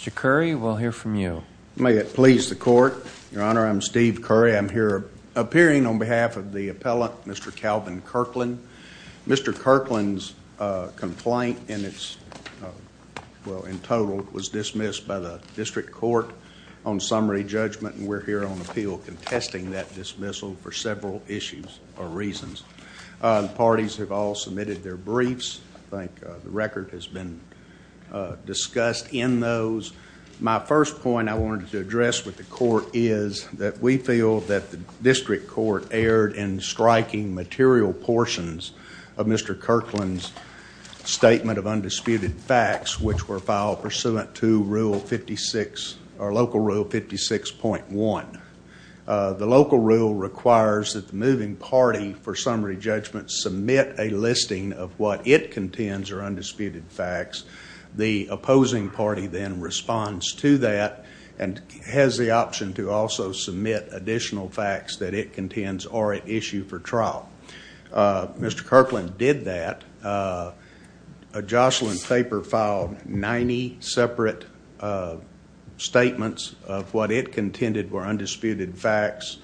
Mr. Curry, we'll hear from you. May it please the Court. Your Honor, I'm Steve Curry. I'm here appearing on behalf of the appellant, Mr. Calvin Kirkland. Mr. Kirkland's complaint in its, well, in total, was dismissed by the District Court on summary judgment, and we're here on appeal contesting that dismissal for several issues or reasons. The parties have all submitted their briefs. I think the record has been discussed in those. My first point I wanted to address with the Court is that we feel that the District Court erred in striking material portions of Mr. Kirkland's statement of undisputed facts, which were filed pursuant to Local Rule 56.1. The Local Rule requires that the moving party for summary judgment submit a listing of what it contends are undisputed facts. The opposing party then responds to that and has the option to also submit additional facts that it contends are at issue for trial. Mr. Kirkland did that. A Jocelyn paper filed 90 separate statements of what it contended were undisputed facts.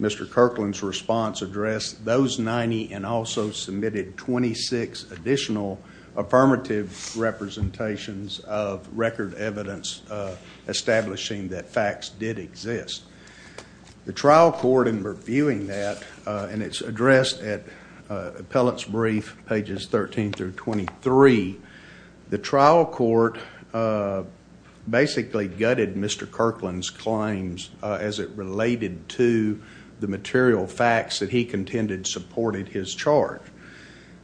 Mr. Kirkland's response addressed those 90 and also submitted 26 additional affirmative representations of record evidence establishing that facts did exist. The trial court, in reviewing that, and it's addressed at Appellate's Brief, pages 13 through 23, the trial court basically gutted Mr. Kirkland's claims as it related to the material facts that he contended supported his charge.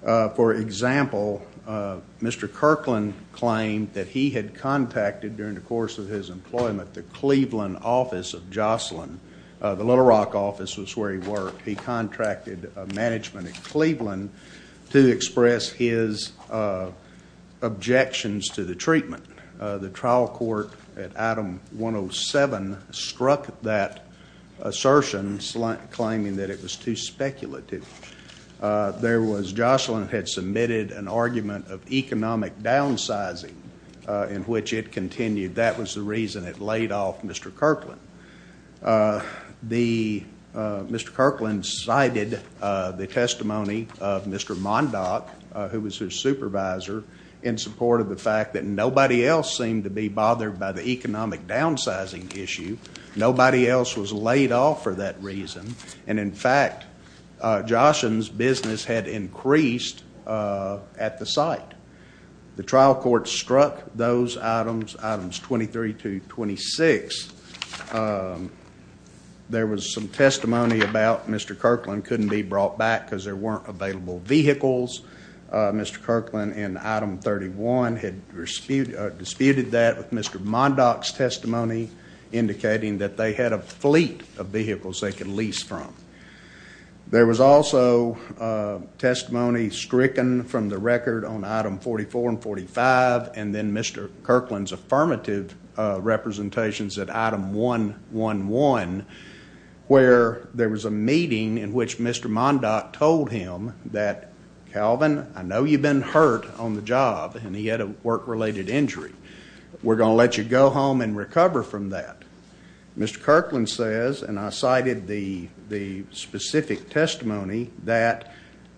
For example, Mr. Kirkland claimed that he had contacted, during the course of his employment, the Cleveland office of Jocelyn. The Little Rock office was where he worked. He contracted management at Cleveland to express his objections to the treatment. The trial court at Item 107 struck that assertion, claiming that it was too speculative. Jocelyn had submitted an argument of economic downsizing in which it continued. That was the reason it laid off Mr. Kirkland. Mr. Kirkland cited the testimony of Mr. Mondock, who was his supervisor, in support of the fact that nobody else seemed to be bothered by the economic downsizing issue. Nobody else was laid off for that reason, and in fact, Jocelyn's business had increased at the site. The trial court struck those items, Items 23 to 26. There was some testimony about Mr. Kirkland couldn't be brought back because there weren't available vehicles. Mr. Kirkland, in Item 31, had disputed that with Mr. Mondock's testimony, indicating that they had a fleet of vehicles they could lease from. There was also testimony stricken from the record on Item 44 and 45, and then Mr. Kirkland's affirmative representations at Item 111, where there was a meeting in which Mr. Mondock told him that, Calvin, I know you've been hurt on the job, and he had a work-related injury. We're going to let you go home and recover from that. Mr. Kirkland says, and I cited the specific testimony, that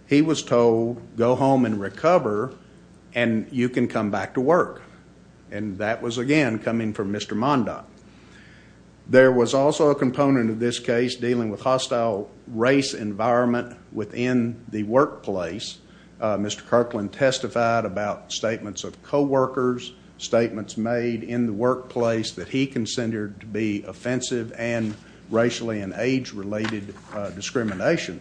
he was told, go home and recover, and you can come back to work. And that was, again, coming from Mr. Mondock. There was also a component of this case dealing with hostile race environment within the workplace. Mr. Kirkland testified about statements of co-workers, statements made in the workplace that he considered to be offensive and racially and age-related discrimination.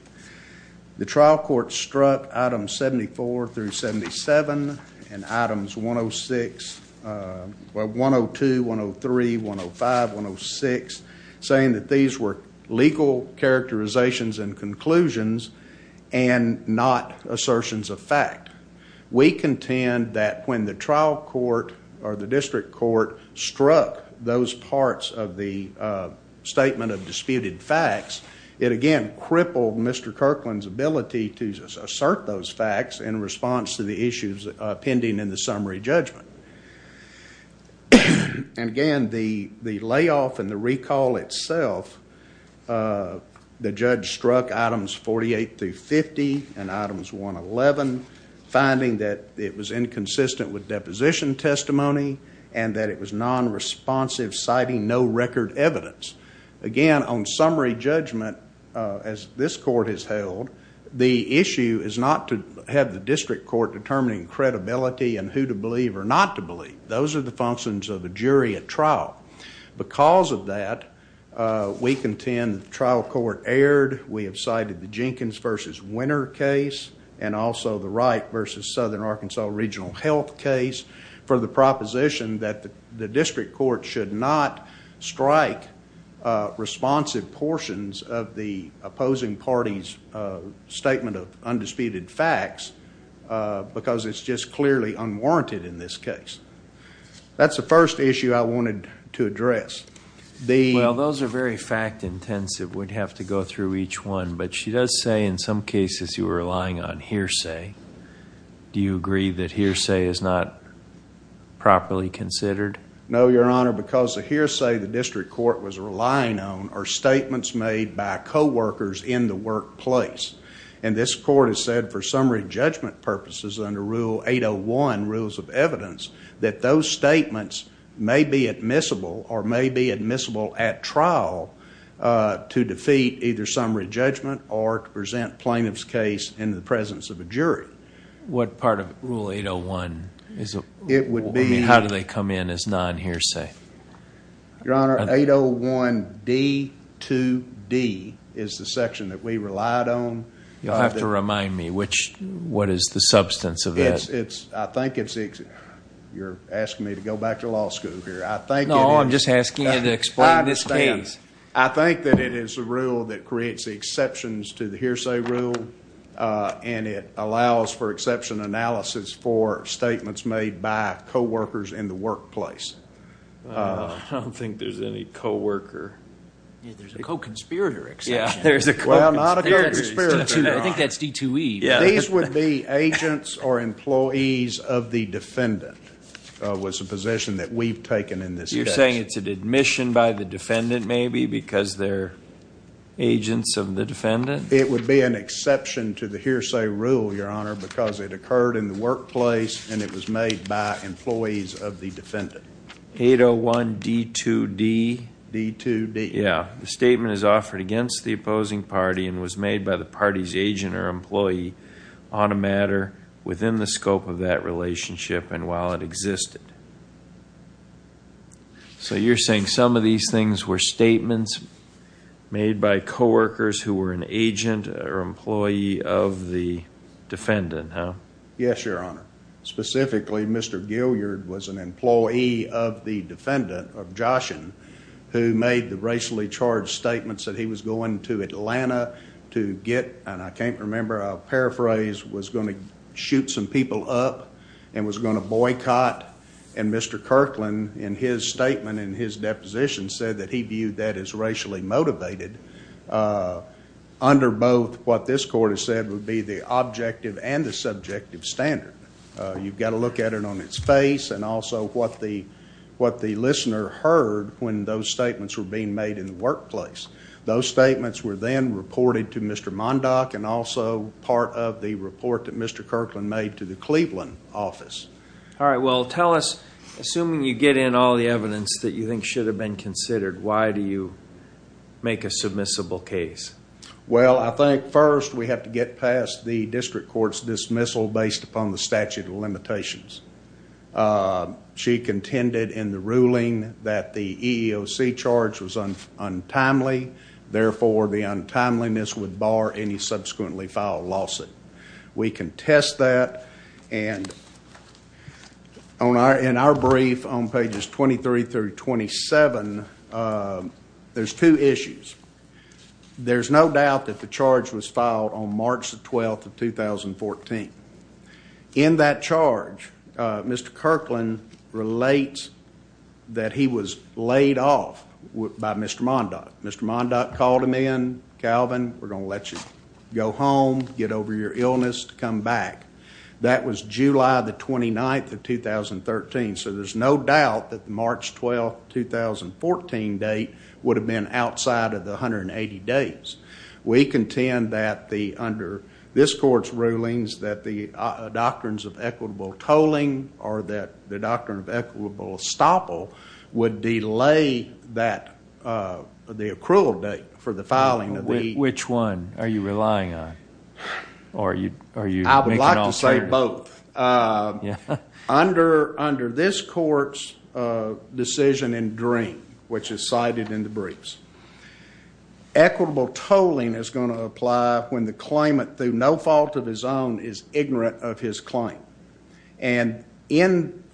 The trial court struck Items 74 through 77 and Items 102, 103, 105, 106, saying that these were legal characterizations and conclusions and not assertions of fact. We contend that when the trial court or the district court struck those parts of the statement of disputed facts, it, again, crippled Mr. Kirkland's ability to assert those facts in response to the issues pending in the summary judgment. And, again, the layoff and the recall itself, the judge struck Items 48 through 50 and Items 111, finding that it was inconsistent with deposition testimony and that it was non-responsive, citing no record evidence. Again, on summary judgment, as this court has held, the issue is not to have the district court determining credibility and who to believe or not to believe. Those are the functions of a jury at trial. Because of that, we contend that the trial court erred. We have cited the Jenkins v. Winter case and also the Wright v. Southern Arkansas Regional Health case for the proposition that the district court should not strike responsive portions of the opposing party's statement of undisputed facts because it's just clearly unwarranted in this case. That's the first issue I wanted to address. Well, those are very fact-intensive. We'd have to go through each one. But she does say in some cases you were relying on hearsay. Do you agree that hearsay is not properly considered? No, Your Honor. Because the hearsay the district court was relying on are statements made by coworkers in the workplace. And this court has said for summary judgment purposes under Rule 801, Rules of Evidence, that those statements may be admissible or may be admissible at trial to defeat either summary judgment or to present plaintiff's case in the presence of a jury. What part of Rule 801? How do they come in as non-hearsay? Your Honor, 801d-2d is the section that we relied on. You'll have to remind me. What is the substance of that? I think it's... You're asking me to go back to law school here. No, I'm just asking you to explain this case. I think that it is a rule that creates exceptions to the hearsay rule, and it allows for exception analysis for statements made by coworkers in the workplace. I don't think there's any coworker. There's a co-conspirator exception. Well, not a co-conspirator. I think that's d-2e. These would be agents or employees of the defendant was a position that we've taken in this case. You're saying it's an admission by the defendant maybe because they're agents of the defendant? It would be an exception to the hearsay rule, Your Honor, because it occurred in the workplace and it was made by employees of the defendant. 801d-2d? d-2d. Yeah. The statement is offered against the opposing party and was made by the party's agent or employee on a matter within the scope of that relationship and while it existed. So you're saying some of these things were statements made by coworkers who were an agent or employee of the defendant, huh? Yes, Your Honor. Specifically, Mr. Gillyard was an employee of the defendant, of Joshen, who made the racially charged statements that he was going to Atlanta to get, and I can't remember, I'll paraphrase, was going to shoot some people up and was going to boycott, and Mr. Kirkland, in his statement, in his deposition, said that he viewed that as racially motivated under both what this court has said would be the objective and the subjective standard. You've got to look at it on its face and also what the listener heard when those statements were being made in the workplace. Those statements were then reported to Mr. Mondock and also part of the report that Mr. Kirkland made to the Cleveland office. All right. Well, tell us, assuming you get in all the evidence that you think should have been considered, why do you make a submissible case? Well, I think first we have to get past the district court's dismissal based upon the statute of limitations. She contended in the ruling that the EEOC charge was untimely, therefore the untimeliness would bar any subsequently filed lawsuit. We can test that, and in our brief on pages 23 through 27, there's two issues. There's no doubt that the charge was filed on March the 12th of 2014. In that charge, Mr. Kirkland relates that he was laid off by Mr. Mondock. Mr. Mondock called him in. Calvin, we're going to let you go home, get over your illness, come back. That was July the 29th of 2013, so there's no doubt that the March 12, 2014 date would have been outside of the 180 days. We contend that under this court's rulings that the doctrines of equitable tolling or that the doctrine of equitable estoppel would delay the accrual date for the filing of the- Which one are you relying on? I would like to say both. Under this court's decision in Dream, which is cited in the briefs, equitable tolling is going to apply when the claimant, through no fault of his own, is ignorant of his claim. In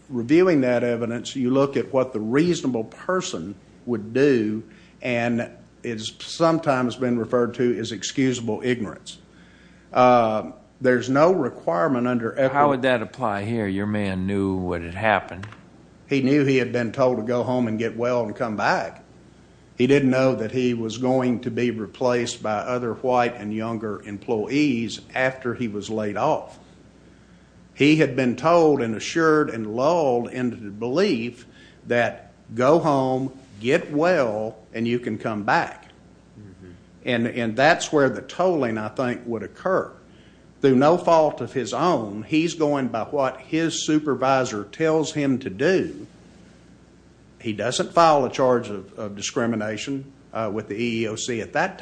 reviewing that evidence, you look at what the reasonable person would do, and it's sometimes been referred to as excusable ignorance. There's no requirement under equitable- How would that apply here? Your man knew what had happened. He knew he had been told to go home and get well and come back. He didn't know that he was going to be replaced by other white and younger employees after he was laid off. He had been told and assured and lulled into the belief that go home, get well, and you can come back. And that's where the tolling, I think, would occur. Through no fault of his own, he's going by what his supervisor tells him to do. He doesn't file a charge of discrimination with the EEOC at that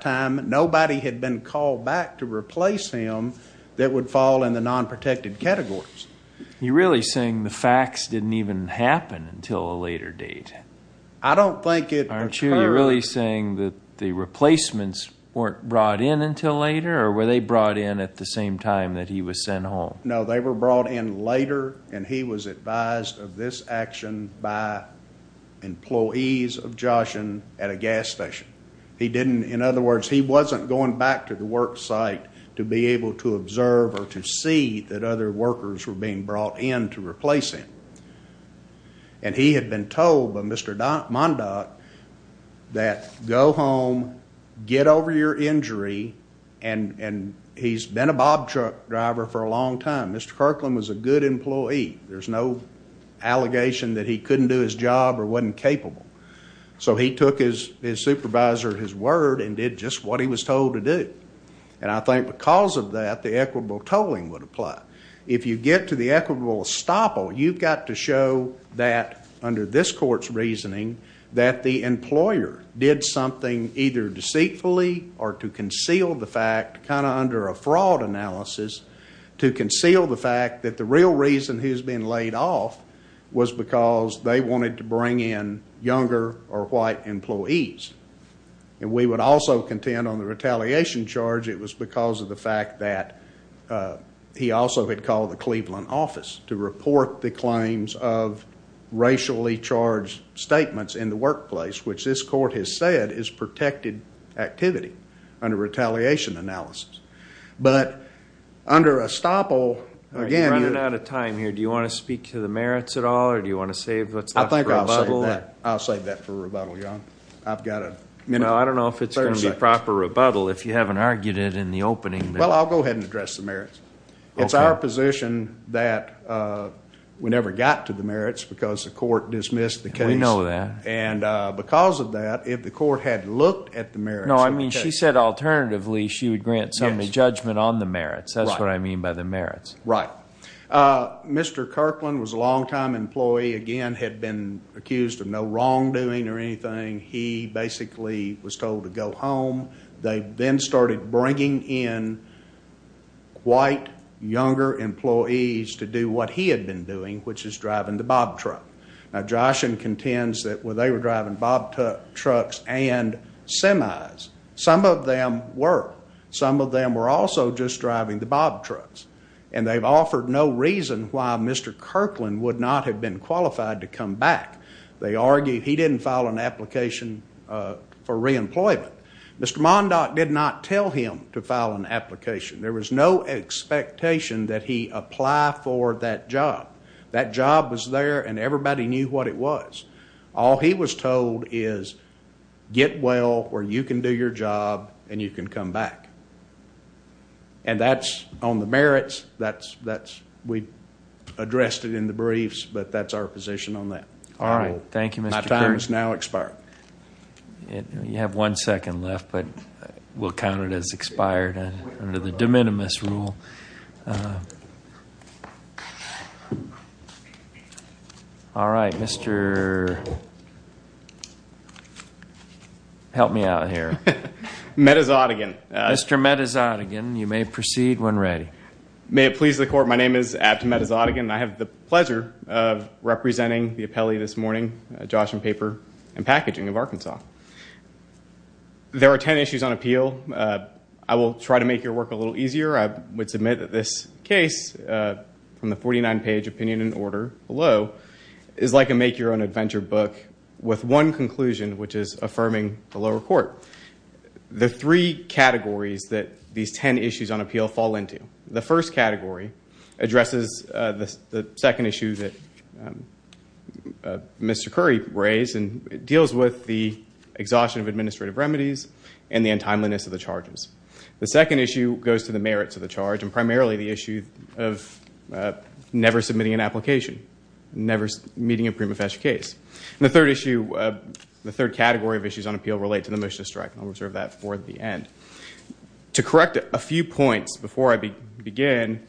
time Nobody had been called back to replace him that would fall in the non-protected categories. You're really saying the facts didn't even happen until a later date? I don't think it occurred- Aren't you really saying that the replacements weren't brought in until later, or were they brought in at the same time that he was sent home? No, they were brought in later, and he was advised of this action by employees of Joshen at a gas station. In other words, he wasn't going back to the work site to be able to observe or to see that other workers were being brought in to replace him. And he had been told by Mr. Mondock that go home, get over your injury, and he's been a Bob truck driver for a long time. Mr. Kirkland was a good employee. There's no allegation that he couldn't do his job or wasn't capable. So he took his supervisor at his word and did just what he was told to do. And I think because of that, the equitable tolling would apply. If you get to the equitable estoppel, you've got to show that under this court's reasoning that the employer did something either deceitfully or to conceal the fact, kind of under a fraud analysis, to conceal the fact that the real reason he was being laid off was because they wanted to bring in younger or white employees. And we would also contend on the retaliation charge, it was because of the fact that he also had called the Cleveland office to report the claims of racially charged statements in the workplace, which this court has said is protected activity under retaliation analysis. But under estoppel, again— We're running out of time here. Do you want to speak to the merits at all or do you want to save what's left for rebuttal? I think I'll save that for rebuttal, Your Honor. I've got a— I don't know if it's going to be proper rebuttal if you haven't argued it in the opening. Well, I'll go ahead and address the merits. It's our position that we never got to the merits because the court dismissed the case. We know that. And because of that, if the court had looked at the merits— No, I mean she said alternatively she would grant somebody judgment on the merits. That's what I mean by the merits. Right. Mr. Kirkland was a longtime employee, again had been accused of no wrongdoing or anything. He basically was told to go home. They then started bringing in quite younger employees to do what he had been doing, which is driving the bob truck. Now, Joshen contends that they were driving bob trucks and semis. Some of them were. Some of them were also just driving the bob trucks. And they've offered no reason why Mr. Kirkland would not have been qualified to come back. They argue he didn't file an application for reemployment. Mr. Mondock did not tell him to file an application. There was no expectation that he apply for that job. That job was there and everybody knew what it was. All he was told is get well or you can do your job and you can come back. And that's on the merits. We addressed it in the briefs, but that's our position on that. All right. Thank you, Mr. Kirkland. My time is now expired. You have one second left, but we'll count it as expired under the de minimis rule. All right, Mr. Help me out here. Metazotigan. Mr. Metazotigan, you may proceed when ready. May it please the court, my name is Abt Metazotigan. I have the pleasure of representing the appellee this morning, Joshen Paper and Packaging of Arkansas. There are ten issues on appeal. I will try to make your work a little easier. I would submit that this case from the 49-page opinion and order below is like a make-your-own-adventure book with one conclusion, which is affirming the lower court. The three categories that these ten issues on appeal fall into. The first category addresses the second issue that Mr. Curry raised, and it deals with the exhaustion of administrative remedies and the untimeliness of the charges. The second issue goes to the merits of the charge, and primarily the issue of never submitting an application, never meeting a prima facie case. And the third issue, the third category of issues on appeal relate to the motion of strike, and I'll reserve that for the end. To correct a few points before I begin,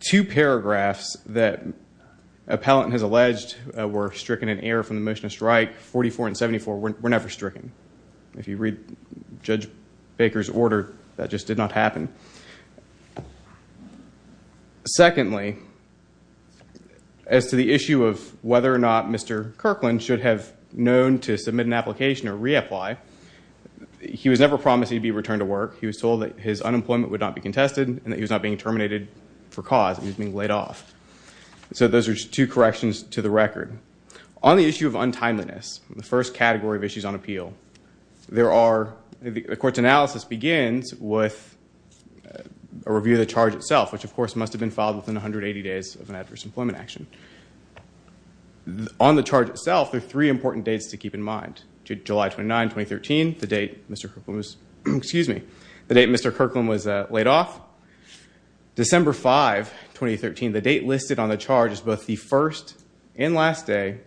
two paragraphs that appellant has alleged were stricken in error from the motion of strike, 44 and 74, were never stricken. If you read Judge Baker's order, that just did not happen. Secondly, as to the issue of whether or not Mr. Kirkland should have known to submit an application or reapply, he was never promised he'd be returned to work. He was told that his unemployment would not be contested and that he was not being terminated for cause and he was being laid off. So those are two corrections to the record. On the issue of untimeliness, the first category of issues on appeal, the court's analysis begins with a review of the charge itself, which of course must have been filed within 180 days of an adverse employment action. On the charge itself, there are three important dates to keep in mind. July 29, 2013, the date Mr. Kirkland was laid off. December 5, 2013, the date listed on the charge is both the first and last day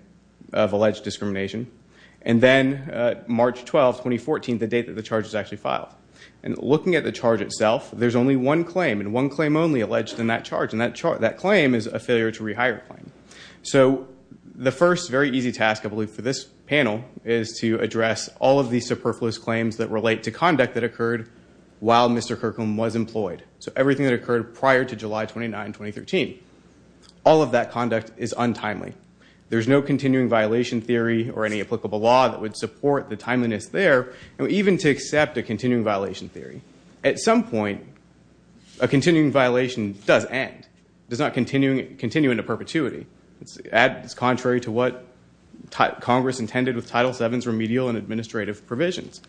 of alleged discrimination. And then March 12, 2014, the date that the charge was actually filed. And looking at the charge itself, there's only one claim and one claim only alleged in that charge, and that claim is a failure to rehire claim. So the first very easy task, I believe, for this panel is to address all of these superfluous claims that relate to conduct that occurred while Mr. Kirkland was employed. So everything that occurred prior to July 29, 2013. All of that conduct is untimely. There's no continuing violation theory or any applicable law that would support the timeliness there, and even to accept a continuing violation theory. At some point, a continuing violation does end. It does not continue into perpetuity. It's contrary to what Congress intended with Title VII's remedial and administrative provisions.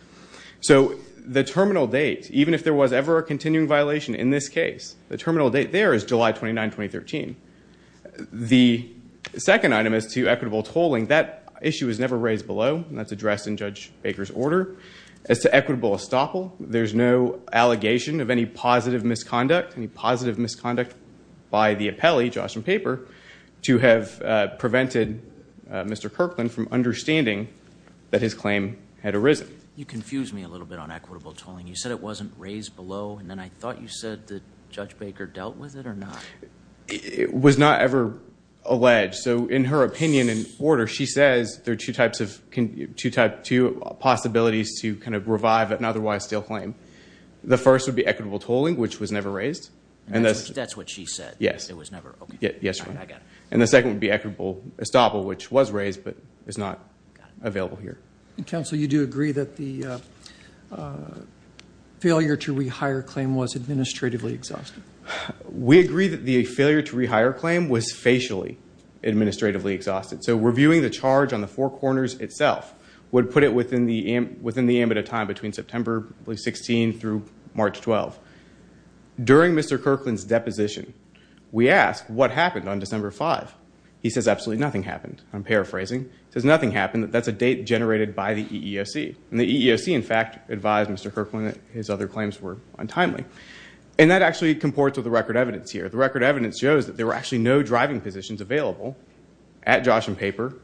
So the terminal date, even if there was ever a continuing violation in this case, the terminal date there is July 29, 2013. The second item is to equitable tolling. That issue was never raised below, and that's addressed in Judge Baker's order. As to equitable estoppel, there's no allegation of any positive misconduct, any positive misconduct by the appellee, Joshua Paper, to have prevented Mr. Kirkland from understanding that his claim had arisen. You confused me a little bit on equitable tolling. You said it wasn't raised below, and then I thought you said that Judge Baker dealt with it or not. It was not ever alleged. So in her opinion and order, she says there are two types of possibilities to kind of revive an otherwise still claim. The first would be equitable tolling, which was never raised. That's what she said? Yes. It was never? Yes, Your Honor. And the second would be equitable estoppel, which was raised but is not available here. Counsel, you do agree that the failure to rehire claim was administratively exhausted? So reviewing the charge on the four corners itself would put it within the ambit of time between September 16 through March 12. During Mr. Kirkland's deposition, we asked what happened on December 5. He says absolutely nothing happened. I'm paraphrasing. He says nothing happened. That's a date generated by the EEOC. And the EEOC, in fact, advised Mr. Kirkland that his other claims were untimely. And that actually comports with the record evidence here. The record evidence shows that there were actually no driving positions available at Josh and Paper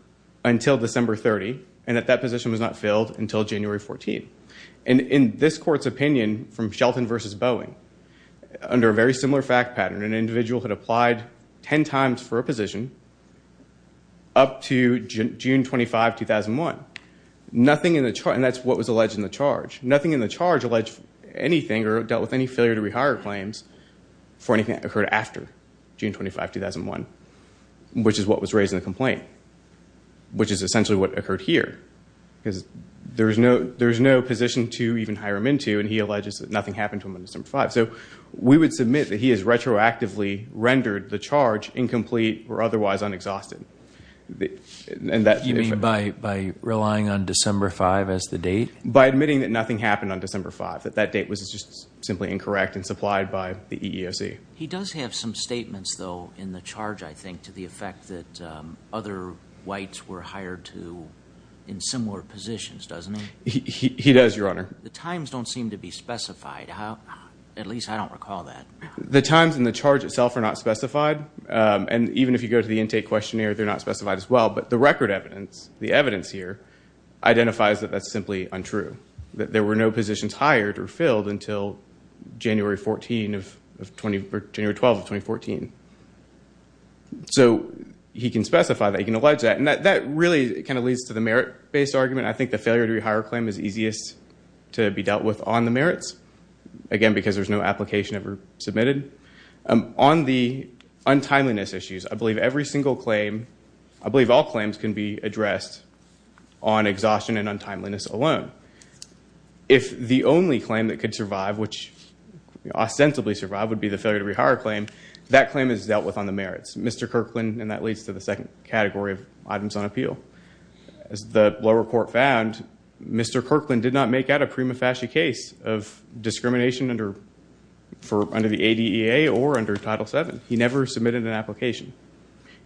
until December 30, and that that position was not filled until January 14. And in this court's opinion from Shelton v. Boeing, under a very similar fact pattern, an individual had applied ten times for a position up to June 25, 2001. Nothing in the charge, and that's what was alleged in the charge, nothing in the charge alleged anything or dealt with any failure to rehire claims for anything that occurred after June 25, 2001, which is what was raised in the complaint, which is essentially what occurred here. There's no position to even hire him into, and he alleges that nothing happened to him on December 5. So we would submit that he has retroactively rendered the charge incomplete or otherwise unexhausted. You mean by relying on December 5 as the date? By admitting that nothing happened on December 5, that that date was just simply incorrect and supplied by the EEOC. He does have some statements, though, in the charge, I think, to the effect that other whites were hired to in similar positions, doesn't he? He does, Your Honor. The times don't seem to be specified. At least I don't recall that. The times in the charge itself are not specified. And even if you go to the intake questionnaire, they're not specified as well. But the record evidence, the evidence here, identifies that that's simply untrue, that there were no positions hired or filled until January 12, 2014. So he can specify that. He can allege that. And that really kind of leads to the merit-based argument. I think the failure to rehire claim is easiest to be dealt with on the merits, again, because there's no application ever submitted. On the untimeliness issues, I believe every single claim, I believe all claims can be addressed on exhaustion and untimeliness alone. If the only claim that could survive, which ostensibly survived, would be the failure to rehire claim, that claim is dealt with on the merits. Mr. Kirkland, and that leads to the second category of items on appeal. As the lower court found, Mr. Kirkland did not make out a prima facie case of discrimination under the ADEA or under Title VII. He never submitted an application.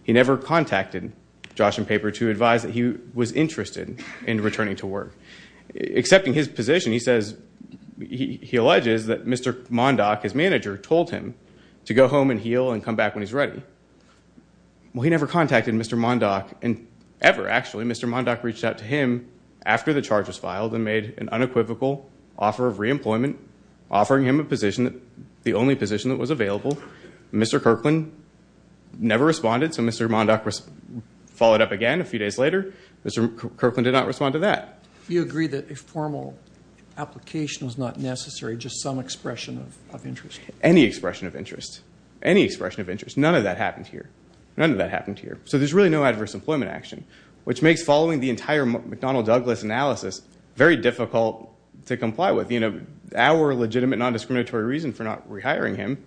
He never contacted Josh and Paper to advise that he was interested in returning to work. Accepting his position, he alleges that Mr. Mondock, his manager, told him to go home and heal and come back when he's ready. Well, he never contacted Mr. Mondock ever, actually. Mr. Mondock reached out to him after the charge was filed and made an unequivocal offer of reemployment, offering him the only position that was available. Mr. Kirkland never responded, so Mr. Mondock followed up again a few days later. Mr. Kirkland did not respond to that. You agree that a formal application was not necessary, just some expression of interest? Any expression of interest. None of that happened here. None of that happened here. So there's really no adverse employment action, which makes following the entire McDonnell-Douglas analysis very difficult to comply with. Our legitimate, non-discriminatory reason for not rehiring him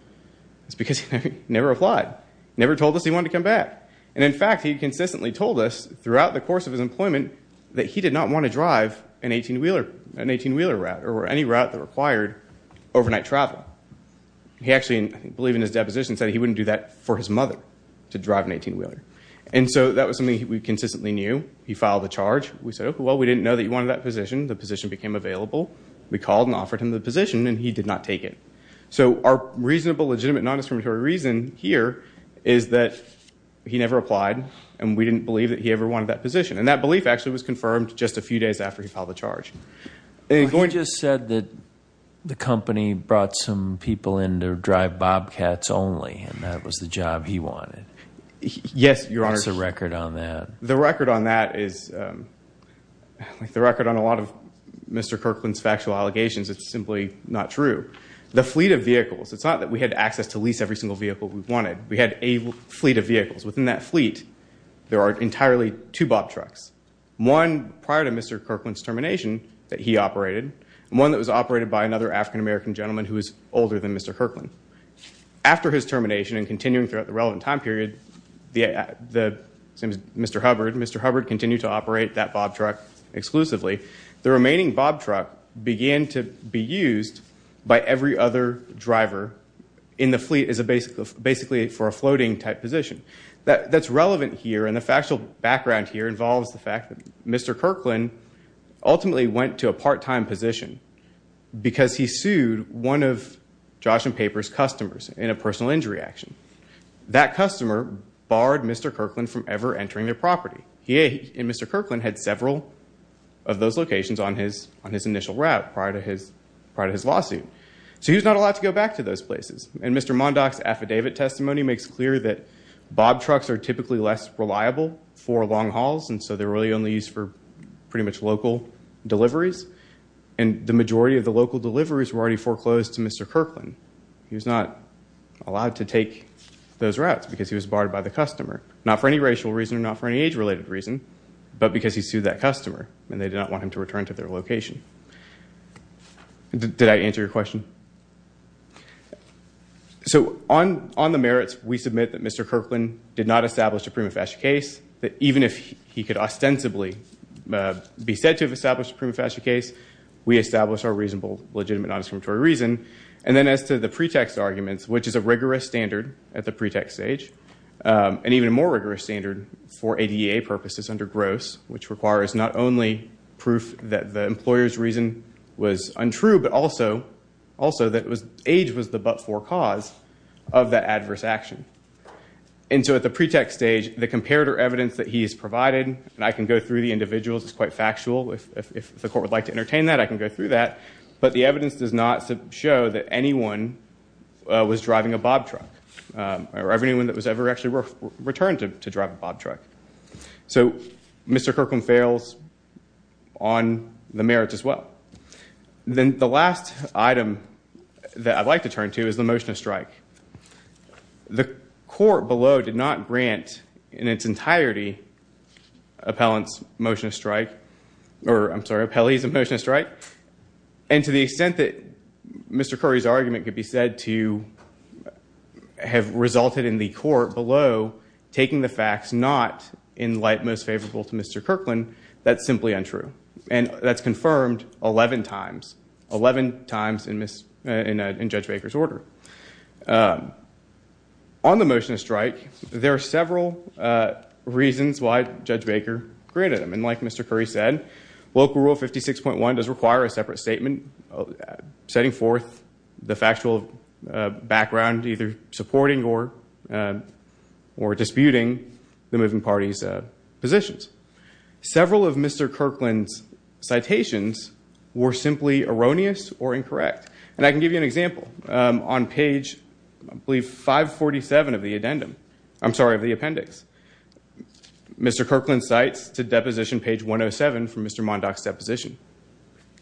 is because he never applied, never told us he wanted to come back. And, in fact, he consistently told us throughout the course of his employment that he did not want to drive an 18-wheeler route or any route that required overnight travel. He actually, I believe in his deposition, said he wouldn't do that for his mother, to drive an 18-wheeler. And so that was something we consistently knew. He filed the charge. We said, okay, well, we didn't know that you wanted that position. The position became available. We called and offered him the position, and he did not take it. So our reasonable, legitimate, non-discriminatory reason here is that he never applied, and we didn't believe that he ever wanted that position. He just said that the company brought some people in to drive Bobcats only, and that was the job he wanted. Yes, Your Honor. What's the record on that? The record on that is, like the record on a lot of Mr. Kirkland's factual allegations, it's simply not true. The fleet of vehicles, it's not that we had access to lease every single vehicle we wanted. We had a fleet of vehicles. Within that fleet, there are entirely two Bob trucks. One prior to Mr. Kirkland's termination that he operated, and one that was operated by another African-American gentleman who was older than Mr. Kirkland. After his termination and continuing throughout the relevant time period, Mr. Hubbard continued to operate that Bob truck exclusively. The remaining Bob truck began to be used by every other driver in the fleet as basically for a floating-type position. That's relevant here, and the factual background here involves the fact that Mr. Kirkland ultimately went to a part-time position because he sued one of Josh and Paper's customers in a personal injury action. That customer barred Mr. Kirkland from ever entering their property. He and Mr. Kirkland had several of those locations on his initial route prior to his lawsuit. So he was not allowed to go back to those places. Mr. Mondock's affidavit testimony makes clear that Bob trucks are typically less reliable for long hauls, and so they're really only used for pretty much local deliveries. The majority of the local deliveries were already foreclosed to Mr. Kirkland. He was not allowed to take those routes because he was barred by the customer, not for any racial reason or not for any age-related reason, but because he sued that customer, and they did not want him to return to their location. Did I answer your question? So on the merits, we submit that Mr. Kirkland did not establish a prima facie case, that even if he could ostensibly be said to have established a prima facie case, we established our reasonable, legitimate, non-discriminatory reason. And then as to the pretext arguments, which is a rigorous standard at the pretext stage, and even a more rigorous standard for ADA purposes under GROSS, which requires not only proof that the employer's reason was untrue, but also that age was the but-for cause of that adverse action. And so at the pretext stage, the comparator evidence that he has provided, and I can go through the individuals, it's quite factual. If the court would like to entertain that, I can go through that. But the evidence does not show that anyone was driving a Bob truck, or anyone that was ever actually returned to drive a Bob truck. So Mr. Kirkland fails on the merits as well. Then the last item that I'd like to turn to is the motion to strike. The court below did not grant in its entirety appellant's motion to strike, or I'm sorry, appellee's motion to strike. And to the extent that Mr. Curry's argument could be said to have resulted in the court below taking the facts not in light most favorable to Mr. Kirkland, that's simply untrue. And that's confirmed 11 times, 11 times in Judge Baker's order. On the motion to strike, there are several reasons why Judge Baker granted them. And like Mr. Curry said, Local Rule 56.1 does require a separate statement setting forth the factual background either supporting or disputing the moving party's positions. Several of Mr. Kirkland's citations were simply erroneous or incorrect. And I can give you an example. On page, I believe, 547 of the appendix, Mr. Kirkland cites to deposition page 107 from Mr. Mondock's deposition.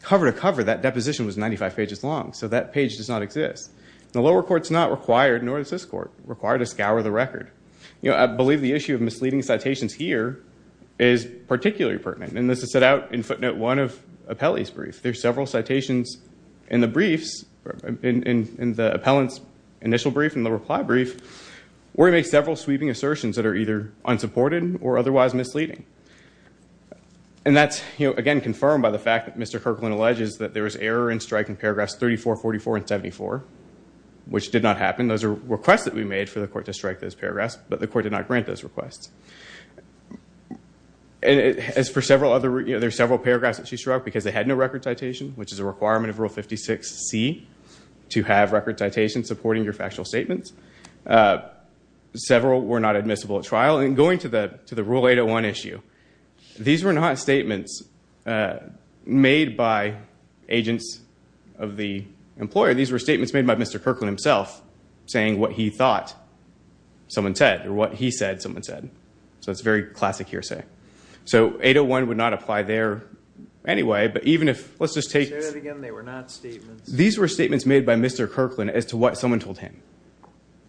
Cover to cover, that deposition was 95 pages long, so that page does not exist. The lower court's not required, nor is this court required, to scour the record. I believe the issue of misleading citations here is particularly pertinent. And this is set out in footnote 1 of appellee's brief. There are several citations in the briefs, in the appellant's initial brief and the reply brief, where he makes several sweeping assertions that are either unsupported or otherwise misleading. And that's, again, confirmed by the fact that Mr. Kirkland alleges that there was error in striking paragraphs 34, 44, and 74, which did not happen. Those are requests that we made for the court to strike those paragraphs, but the court did not grant those requests. As for several other, there are several paragraphs that she struck because they had no record citation, which is a requirement of Rule 56C to have record citations supporting your factual statements. Several were not admissible at trial. Well, in going to the Rule 801 issue, these were not statements made by agents of the employer. These were statements made by Mr. Kirkland himself, saying what he thought someone said, or what he said someone said. So it's a very classic hearsay. So 801 would not apply there anyway, but even if, let's just take... Say that again, they were not statements... These were statements made by Mr. Kirkland as to what someone told him.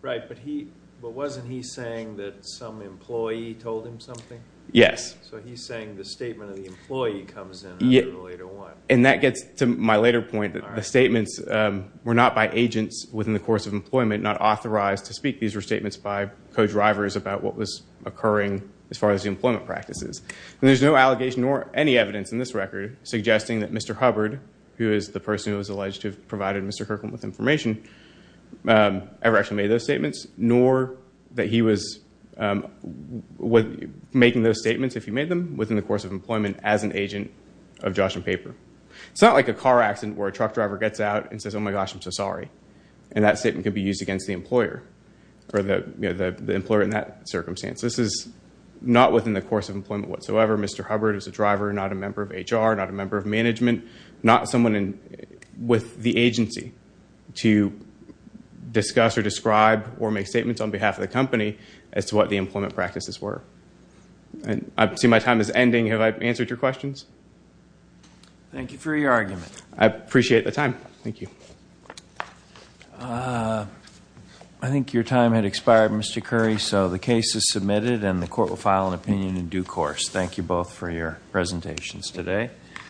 Right, but wasn't he saying that some employee told him something? Yes. So he's saying the statement of the employee comes in under 801. And that gets to my later point, that the statements were not by agents within the course of employment, not authorized to speak. These were statements by co-drivers about what was occurring as far as the employment practices. And there's no allegation or any evidence in this record suggesting that Mr. Hubbard, who is the person who was alleged to have provided Mr. Kirkland with information, ever actually made those statements, nor that he was making those statements, if he made them, within the course of employment as an agent of Josh and Paper. It's not like a car accident where a truck driver gets out and says, oh my gosh, I'm so sorry. And that statement could be used against the employer, or the employer in that circumstance. This is not within the course of employment whatsoever. Mr. Hubbard is a driver, not a member of HR, not a member of management, not someone with the agency to discuss or describe or make statements on behalf of the company as to what the employment practices were. I see my time is ending. Have I answered your questions? Thank you for your argument. I appreciate the time. Thank you. I think your time had expired, Mr. Curry. So the case is submitted, and the court will file an opinion in due course. Thank you both for your presentations today.